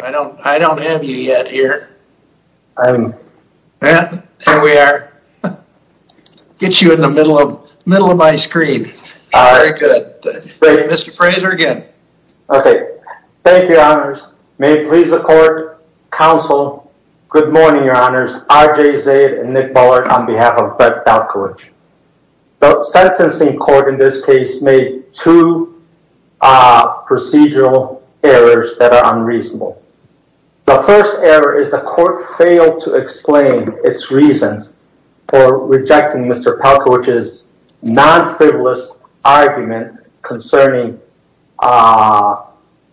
I don't I don't have you yet here. I mean, yeah, there we are Get you in the middle of middle of my screen. All right good Mr. Fraser again. Okay. Thank you honors may please the court Counsel good morning. Your honors RJ Zayed and Nick Bullard on behalf of Brett Palkowitsch the sentencing court in this case made two Procedural errors that are unreasonable The first error is the court failed to explain its reasons for rejecting. Mr. Palkowitsch's non-frivolous argument concerning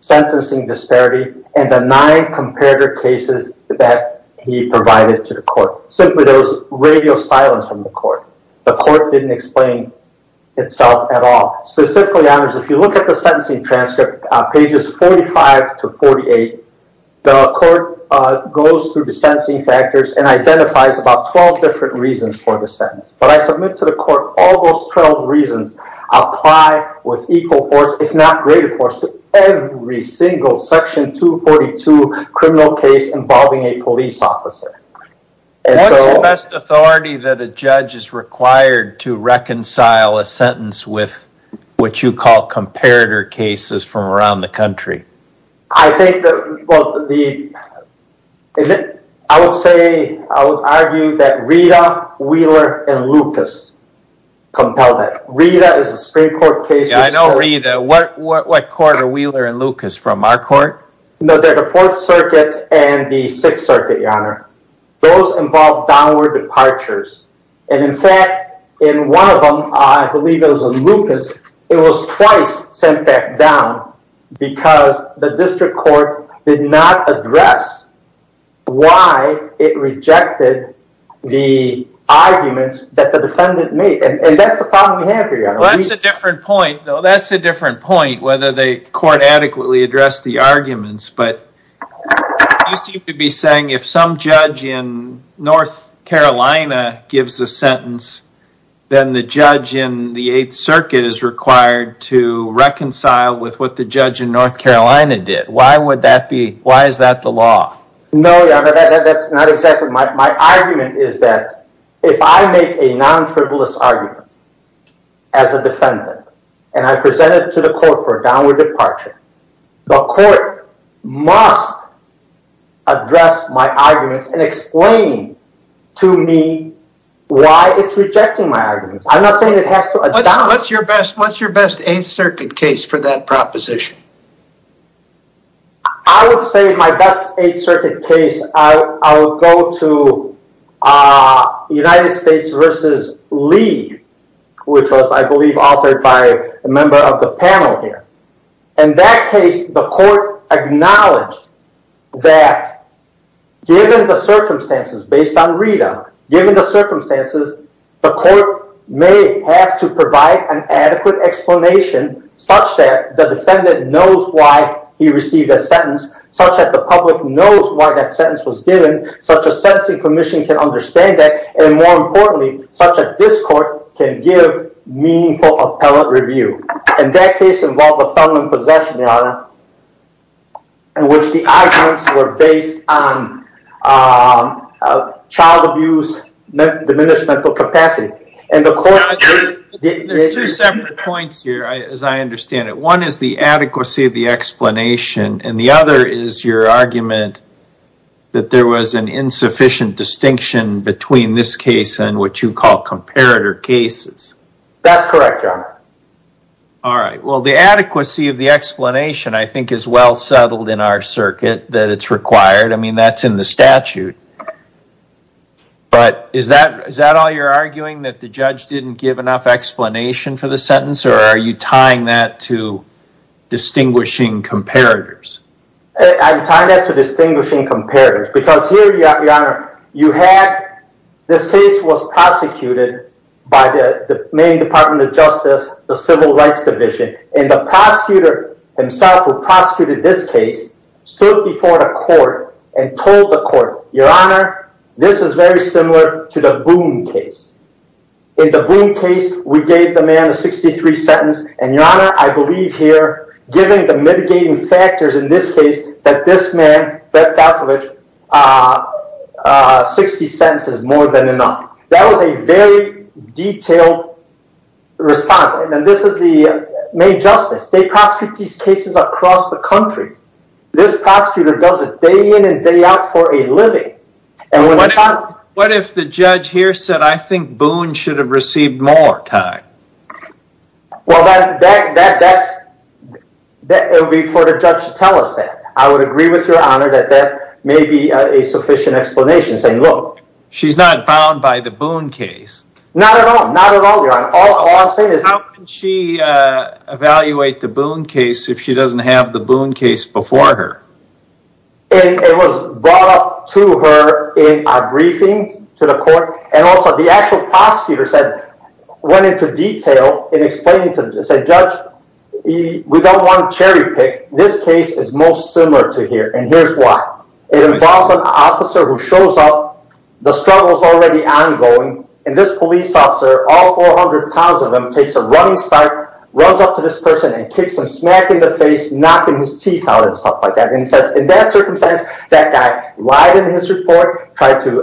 Sentencing disparity and the nine comparator cases that he provided to the court simply those Radio silence from the court the court didn't explain Itself at all specifically honors if you look at the sentencing transcript pages 45 to 48 the court Goes through the sensing factors and identifies about 12 different reasons for the sentence but I submit to the court all those 12 reasons apply with equal force if not greater force to every single section 242 criminal case involving a police officer And so best authority that a judge is required to reconcile a sentence with What you call comparator cases from around the country. I think I would say I would argue that Rita Wheeler and Lucas Compels it Rita is a Supreme Court case. I know Rita what what quarter Wheeler and Lucas from our court? The fourth circuit and the sixth circuit your honor those involved downward departures and in fact in One of them I believe it was a Lucas. It was twice sent back down Because the district court did not address Why it rejected the arguments that the defendant made and that's the problem we have here. That's a different point though, that's a different point whether they court adequately addressed the arguments, but You seem to be saying if some judge in North Carolina Gives a sentence then the judge in the 8th Circuit is required to Reconcile with what the judge in North Carolina did why would that be why is that the law? No, that's not exactly my argument. Is that if I make a non-frivolous argument as Defendant and I presented to the court for a downward departure the court must Address my arguments and explain to me Why it's rejecting my arguments. I'm not saying it has to what's your best? What's your best 8th Circuit case for that proposition? I Would say my best 8th Circuit case I'll go to United States vs. Lee Which was I believe authored by a member of the panel here in that case the court acknowledged that Given the circumstances based on Rita given the circumstances The court may have to provide an adequate explanation Such that the defendant knows why he received a sentence such that the public knows why that sentence was given Such a sentencing commission can understand that and more importantly such that this court can give Meaningful appellate review and that case involved a felon in possession, Your Honor In which the arguments were based on Child abuse diminished mental capacity and the court Points here as I understand it one is the adequacy of the explanation and the other is your argument That there was an insufficient distinction between this case and what you call comparator cases. That's correct, Your Honor All right. Well the adequacy of the explanation I think is well settled in our circuit that it's required I mean that's in the statute But is that is that all you're arguing that the judge didn't give enough explanation for the sentence or are you tying that to Distinguishing comparators I'm tying that to distinguishing comparators because here, Your Honor, you had This case was prosecuted By the main Department of Justice the Civil Rights Division and the prosecutor himself who prosecuted this case Stood before the court and told the court, Your Honor, this is very similar to the Boone case In the Boone case we gave the man a 63 sentence and Your Honor I believe here given the mitigating factors in this case that this man, Fred Falkovich Sixty sentences more than enough. That was a very detailed Response and this is the main justice. They prosecute these cases across the country This prosecutor does it day in and day out for a living And what if the judge here said I think Boone should have received more time Well, that's That would be for the judge to tell us that I would agree with Your Honor that that may be a sufficient explanation saying Look, she's not bound by the Boone case. Not at all. Not at all, Your Honor. All I'm saying is how can she Evaluate the Boone case if she doesn't have the Boone case before her It was brought up to her in a briefing to the court and also the actual prosecutor said Went into detail and explained to the judge We don't want cherry-picked. This case is most similar to here and here's why it involves an officer who shows up The struggle is already ongoing and this police officer all 400 pounds of him takes a running start Runs up to this person and kicks him smack in the face knocking his teeth out and stuff like that and he says in that circumstance that guy lied in his report tried to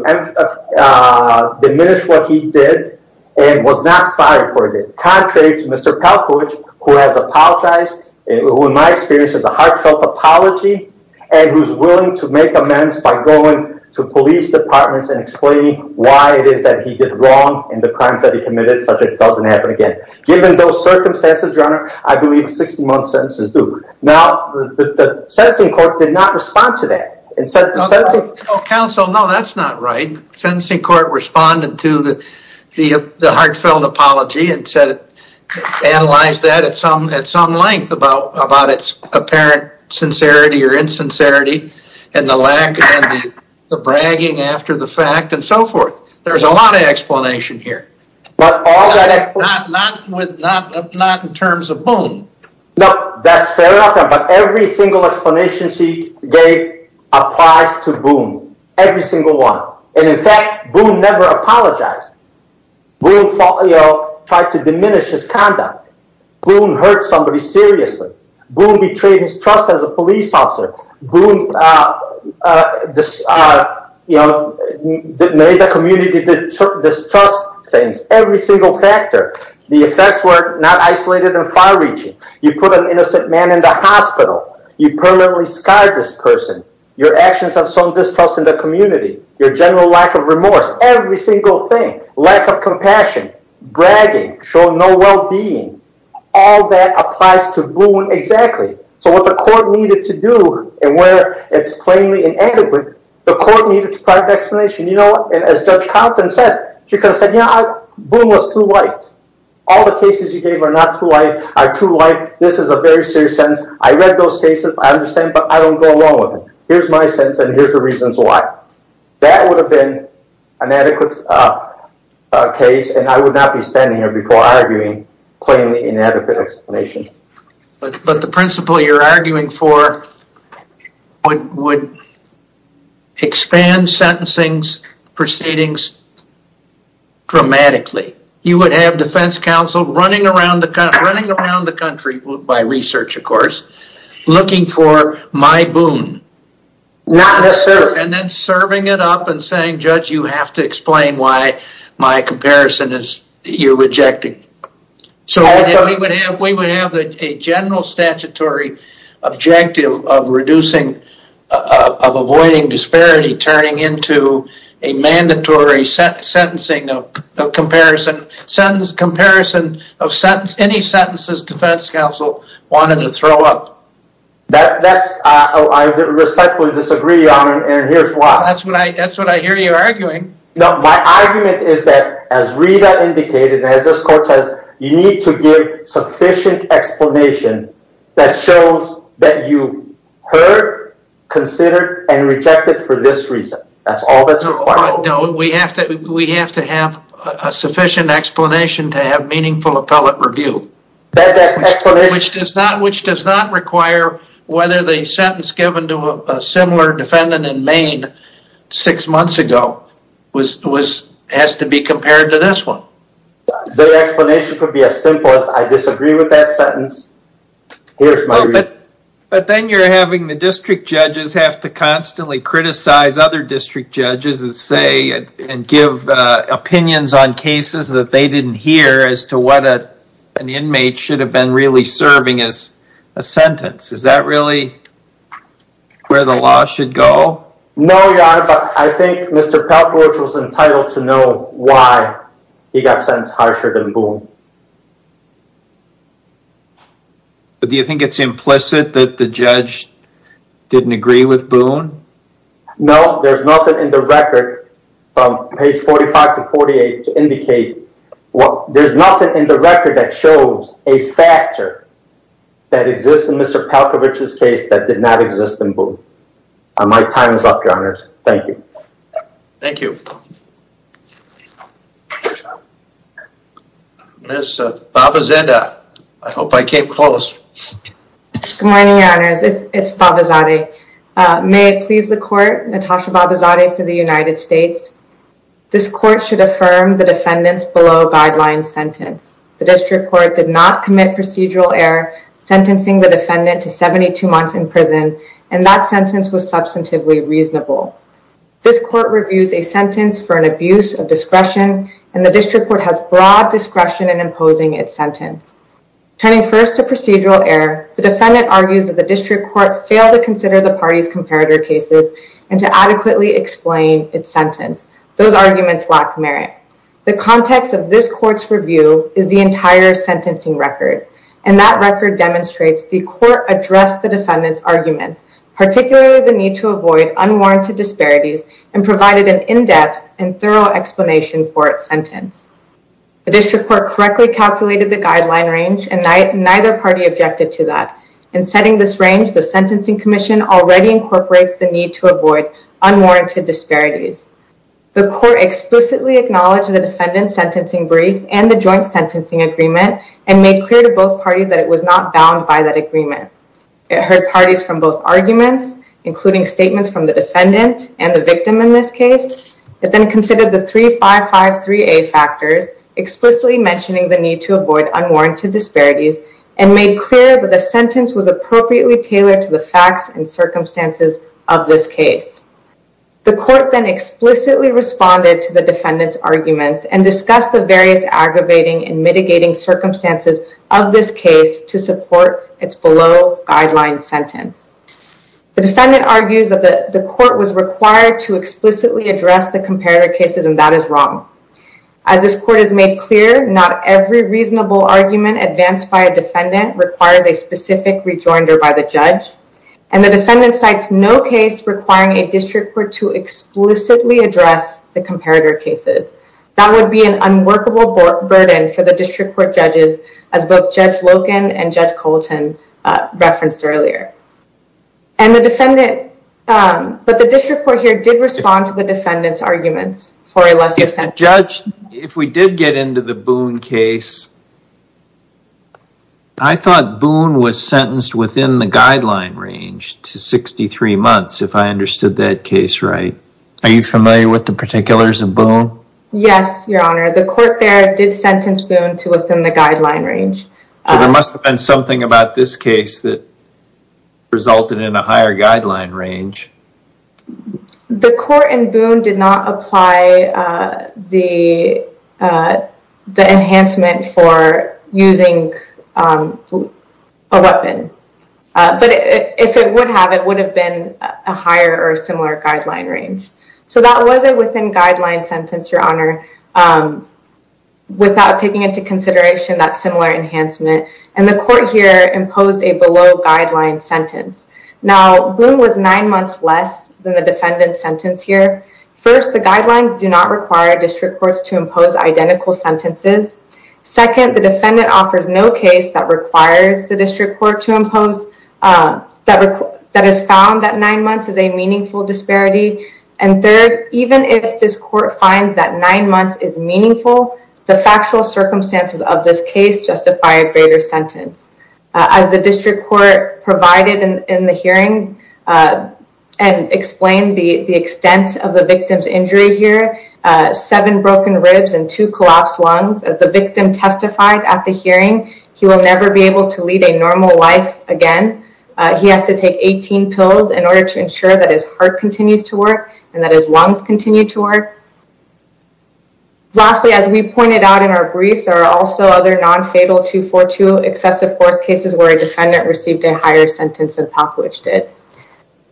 Diminish what he did and was not sorry for it contrary to mr. Palkowitz who has apologized and who in my experience is a heartfelt apology and Who's willing to make amends by going to police departments and explaining why it is that he did wrong in the crimes that he? Committed such it doesn't happen again given those circumstances runner I believe 60 month sentences do now the sentencing court did not respond to that and said Counsel no, that's not right sentencing court responded to the the heartfelt apology and said Analyze that at some at some length about about its apparent sincerity or insincerity and the lack The bragging after the fact and so forth. There's a lot of explanation here Not in terms of boom, no, that's fair about every single explanation she gave Applies to boom every single one. And in fact, we'll never apologize We'll follow try to diminish his conduct We'll hurt somebody seriously. We'll betray his trust as a police officer This You know That made the community Distrust things every single factor the effects were not isolated and far-reaching you put an innocent man in the hospital You permanently scarred this person your actions have some distrust in the community your general lack of remorse every single thing lack of compassion Bragging show no well-being all that applies to booing exactly So what the court needed to do and where it's plainly inadequate the court needed to private explanation You know as judge Thompson said she could have said yeah Boom was too light all the cases you gave are not too light are too light. This is a very serious sentence I read those cases. I understand but I don't go along with it. Here's my sense and here's the reasons why That would have been an adequate Case and I would not be standing here before arguing plainly inadequate explanation But the principle you're arguing for would Expand sentencing proceedings Dramatically you would have defense counsel running around the country running around the country by research, of course looking for my boon Not a sir, and then serving it up and saying judge you have to explain why my comparison is you're rejecting So we would have we would have a general statutory objective of reducing of avoiding disparity turning into a mandatory sentencing of Comparison sentence comparison of sentence any sentences defense counsel wanted to throw up That that's I Respectfully disagree on and here's why that's what I guess what I hear you arguing No, my argument is that as Rita indicated as this court says you need to give sufficient Explanation that shows that you heard Considered and rejected for this reason That's all that's required. No, we have to we have to have a sufficient explanation to have meaningful appellate review Which does not which does not require whether the sentence given to a similar defendant in Maine Six months ago was was has to be compared to this one The explanation could be as simple as I disagree with that sentence But then you're having the district judges have to constantly criticize other district judges and say and give Opinions on cases that they didn't hear as to what a an inmate should have been really serving as a sentence Is that really? Where the law should go? No. Yeah, I think mr. Palforge was entitled to know why he got sentenced harsher than Boone Do you think it's implicit that the judge Didn't agree with Boone No, there's nothing in the record page 45 to 48 to indicate what there's nothing in the record that shows a factor that Exists in mr. Palkovich's case that did not exist in Boone. My time is up your honors. Thank you Thank you I Hope I came close Good morning, your honors. It's Babazadeh May it please the court Natasha Babazadeh for the United States This court should affirm the defendants below guidelines sentence. The district court did not commit procedural error Sentencing the defendant to 72 months in prison and that sentence was substantively reasonable This court reviews a sentence for an abuse of discretion and the district court has broad discretion in imposing its sentence Turning first to procedural error The defendant argues that the district court failed to consider the party's comparator cases and to adequately explain its sentence Those arguments lack merit the context of this court's review is the entire Sentencing record and that record demonstrates the court addressed the defendants arguments particularly the need to avoid unwarranted disparities and provided an in-depth and thorough explanation for its sentence the district court correctly calculated the guideline range and night neither party objected to that in Setting this range the Sentencing Commission already incorporates the need to avoid unwarranted disparities the court Explicitly acknowledged the defendants sentencing brief and the joint sentencing agreement and made clear to both parties that it was not bound by that agreement It heard parties from both arguments including statements from the defendant and the victim in this case It then considered the three five five three a factors explicitly mentioning the need to avoid unwarranted disparities and made clear that the sentence was appropriately tailored to the facts and circumstances of this case The court then explicitly responded to the defendants arguments and discussed the various aggravating and mitigating Circumstances of this case to support its below guideline sentence the defendant argues of the the court was required to explicitly address the comparator cases and that is wrong as This court has made clear not every reasonable argument advanced by a defendant requires a specific rejoinder by the judge and the defendant cites no case requiring a district court to Judge Logan and judge Colton referenced earlier and the defendant But the district court here did respond to the defendants arguments for a lesser sentence. Judge if we did get into the Boone case I Thought Boone was sentenced within the guideline range to 63 months if I understood that case, right? Are you familiar with the particulars of Boone? Yes, your honor the court there did sentence Boone to within the guideline range there must have been something about this case that Resulted in a higher guideline range The court in Boone did not apply the The enhancement for using a weapon But if it would have it would have been a higher or similar guideline range So that was it within guideline sentence your honor Without taking into consideration that similar enhancement and the court here imposed a below guideline sentence Now Boone was nine months less than the defendant sentence here first The guidelines do not require district courts to impose identical sentences Second the defendant offers no case that requires the district court to impose That record that has found that nine months is a meaningful disparity and third even if this court finds that nine months is Meaningful the factual circumstances of this case justify a greater sentence as the district court provided in the hearing and Explained the the extent of the victim's injury here Seven broken ribs and two collapsed lungs as the victim testified at the hearing He will never be able to lead a normal life again He has to take 18 pills in order to ensure that his heart continues to work and that his lungs continue to work Lastly as we pointed out in our briefs are also other non-fatal 242 excessive force cases where a defendant received a higher sentence than Popovich did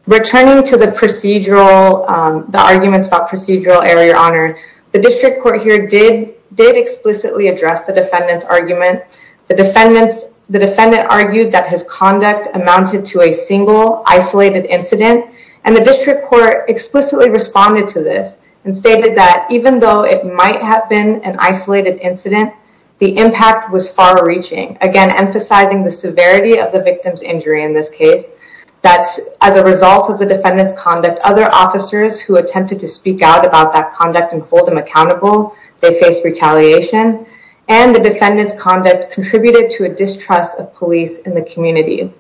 returning to the procedural The arguments about procedural error your honor the district court here did did explicitly address the defendant's argument The defendants the defendant argued that his conduct amounted to a single isolated incident and the district court Explicitly responded to this and stated that even though it might have been an isolated incident The impact was far-reaching again emphasizing the severity of the victim's injury in this case That's as a result of the defendants conduct other officers who attempted to speak out about that conduct and hold them accountable They faced retaliation and the defendants conduct contributed to a distrust of police in the community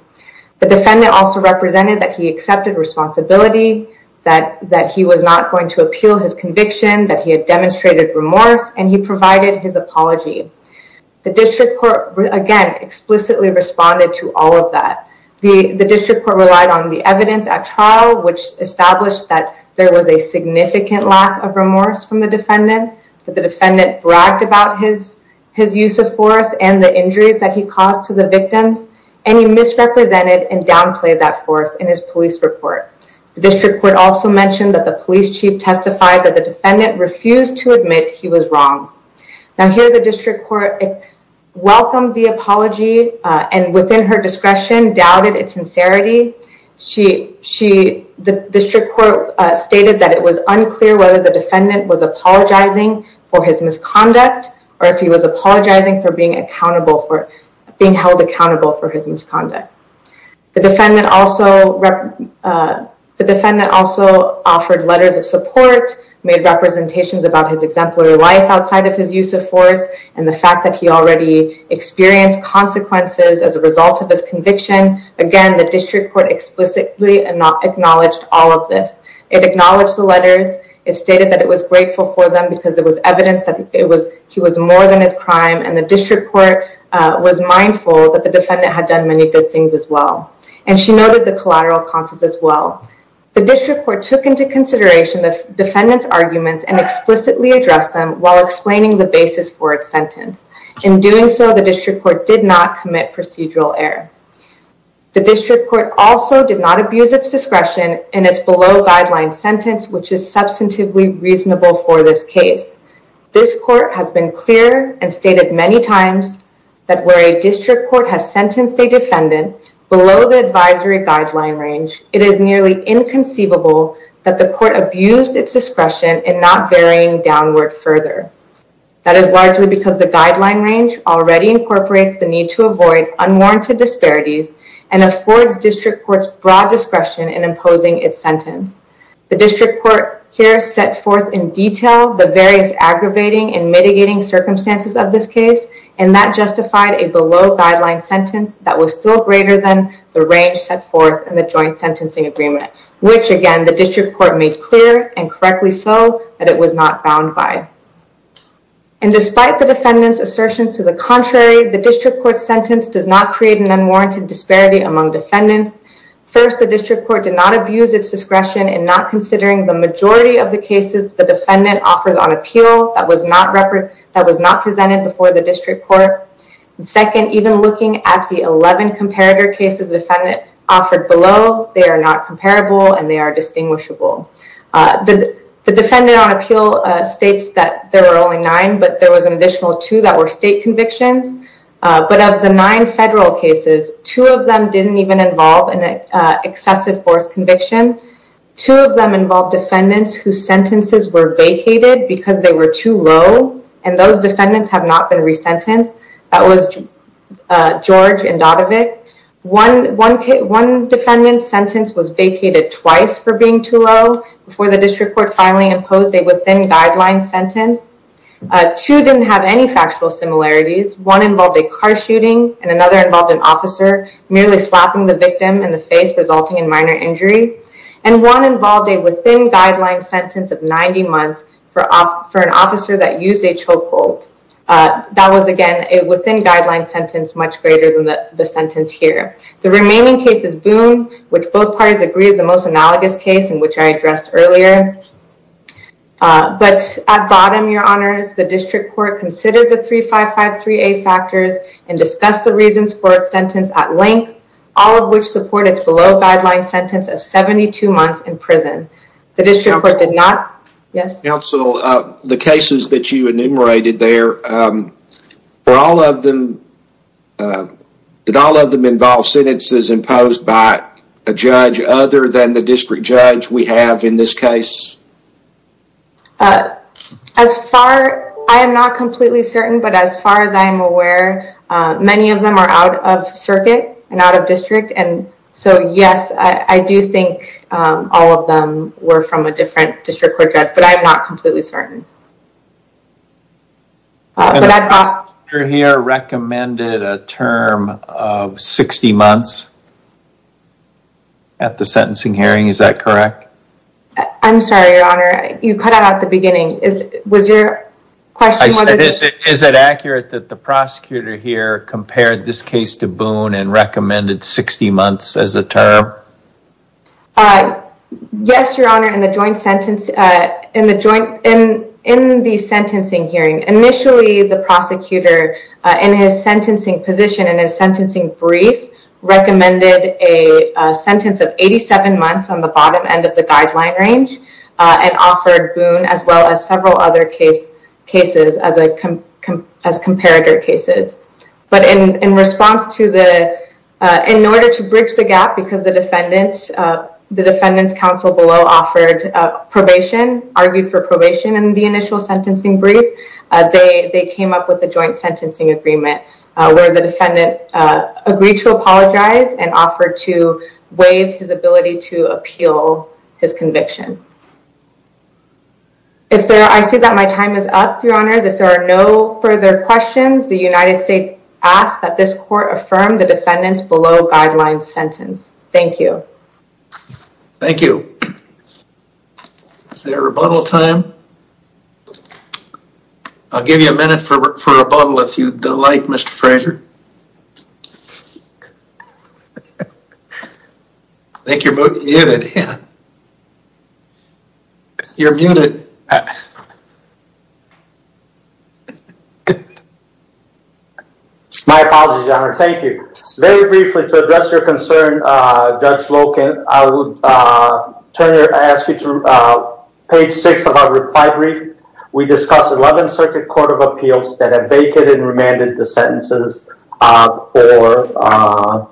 The defendant also represented that he accepted responsibility That that he was not going to appeal his conviction that he had demonstrated remorse and he provided his apology the district court again explicitly responded to all of that the the district court relied on the evidence at trial which Established that there was a significant lack of remorse from the defendant that the defendant bragged about his His use of force and the injuries that he caused to the victims and he misrepresented and downplayed that force in his police report The district court also mentioned that the police chief testified that the defendant refused to admit he was wrong Now here the district court Welcomed the apology and within her discretion doubted its sincerity She she the district court stated that it was unclear whether the defendant was Apologizing for his misconduct or if he was apologizing for being accountable for being held accountable for his misconduct the defendant also the defendant also Offered letters of support made representations about his exemplary life outside of his use of force and the fact that he already Experienced consequences as a result of his conviction again, the district court explicitly and not acknowledged all of this It acknowledged the letters It stated that it was grateful for them because it was evidence that it was he was more than his crime and the district court Was mindful that the defendant had done many good things as well and she noted the collateral causes as well The district court took into consideration the defendants arguments and explicitly addressed them while explaining the basis for its sentence In doing so the district court did not commit procedural error The district court also did not abuse its discretion and it's below guideline sentence, which is substantively reasonable for this case This court has been clear and stated many times that where a district court has sentenced a defendant Below the advisory guideline range. It is nearly inconceivable That the court abused its discretion and not varying downward further That is largely because the guideline range already incorporates the need to avoid unwarranted disparities and Affords district courts broad discretion in imposing its sentence the district court here set forth in detail the various aggravating and mitigating circumstances of this case and that Justified a below guideline sentence that was still greater than the range set forth in the joint sentencing agreement Which again the district court made clear and correctly so that it was not bound by And despite the defendants assertions to the contrary the district court sentence does not create an unwarranted disparity among defendants First the district court did not abuse its discretion and not considering the majority of the cases the defendant offered on appeal That was not represented before the district court Second even looking at the 11 comparator cases defendant offered below they are not comparable and they are distinguishable The defendant on appeal states that there are only nine but there was an additional two that were state convictions But of the nine federal cases two of them didn't even involve an excessive force conviction two of them involved defendants whose sentences were vacated because they were too low and those defendants have not been resentenced that was George and Dadovic One defendant's sentence was vacated twice for being too low before the district court finally imposed a within-guideline sentence Two didn't have any factual similarities one involved a car shooting and another involved an officer Merely slapping the victim in the face resulting in minor injury and one involved a within-guideline Sentence of 90 months for an officer that used a chokehold That was again a within-guideline sentence much greater than the sentence here The remaining case is Boone which both parties agree is the most analogous case in which I addressed earlier But at bottom your honors the district court considered the 355 3a factors and Discussed the reasons for its sentence at length all of which support its below-guideline sentence of 72 months in prison The district court did not yes counsel the cases that you enumerated there for all of them Did all of them involve sentences imposed by a judge other than the district judge we have in this case As far I am NOT completely certain but as far as I am aware Many of them are out of circuit and out of district. And so yes, I do think All of them were from a different district court judge, but I'm not completely certain You're here recommended a term of 60 months At the sentencing hearing is that correct? I'm sorry, your honor. You cut out at the beginning is was your question I said is it is it accurate that the prosecutor here compared this case to Boone and recommended 60 months as a term? I Yes, your honor in the joint sentence in the joint in in the sentencing hearing initially the prosecutor in his sentencing position and his sentencing brief recommended a sentence of 87 months on the bottom end of the guideline range And offered Boone as well as several other case cases as I can as comparator cases but in in response to the In order to bridge the gap because the defendants the defendants counsel below offered Probation argued for probation and the initial sentencing brief. They they came up with the joint sentencing agreement where the defendant Agreed to apologize and offered to waive his ability to appeal his conviction If so, I see that my time is up your honors if there are no further questions The United States asked that this court affirmed the defendants below guidelines sentence. Thank you Thank you It's their rebuttal time I'll give you a minute for a bottle if you'd like. Mr. Frazier Thank you, you're muted My apologies, your honor, thank you. Very briefly to address your concern judge Loken I would turn your ask you to Page six of our reply brief. We discussed 11th Circuit Court of Appeals that have vacated and remanded the sentences or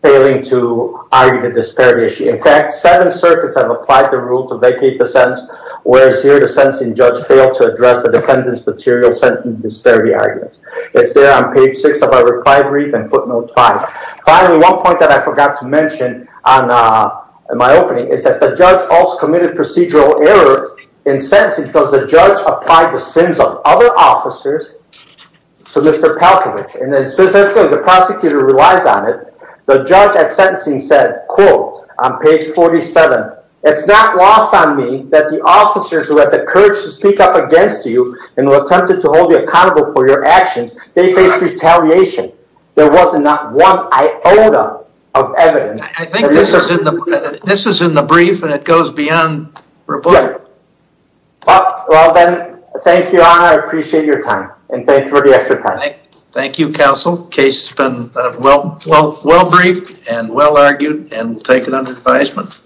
Failing to argue the disparity issue. In fact, seven circuits have applied the rule to vacate the sentence Whereas here the sentencing judge failed to address the defendants material sentence disparity arguments It's there on page six of our reply brief and footnote five. Finally one point that I forgot to mention on My opening is that the judge also committed procedural errors in sentencing because the judge applied the sins of other officers So mr. Palkovich and then specifically the prosecutor relies on it The judge at sentencing said quote on page 47 It's not lost on me that the officers who had the courage to speak up against you and were tempted to hold you accountable For your actions. They face retaliation There wasn't not one This is in the brief and it goes beyond Thank you, I appreciate your time and thank you for the extra time Thank You counsel case has been well well well briefed and well argued and taken under advisement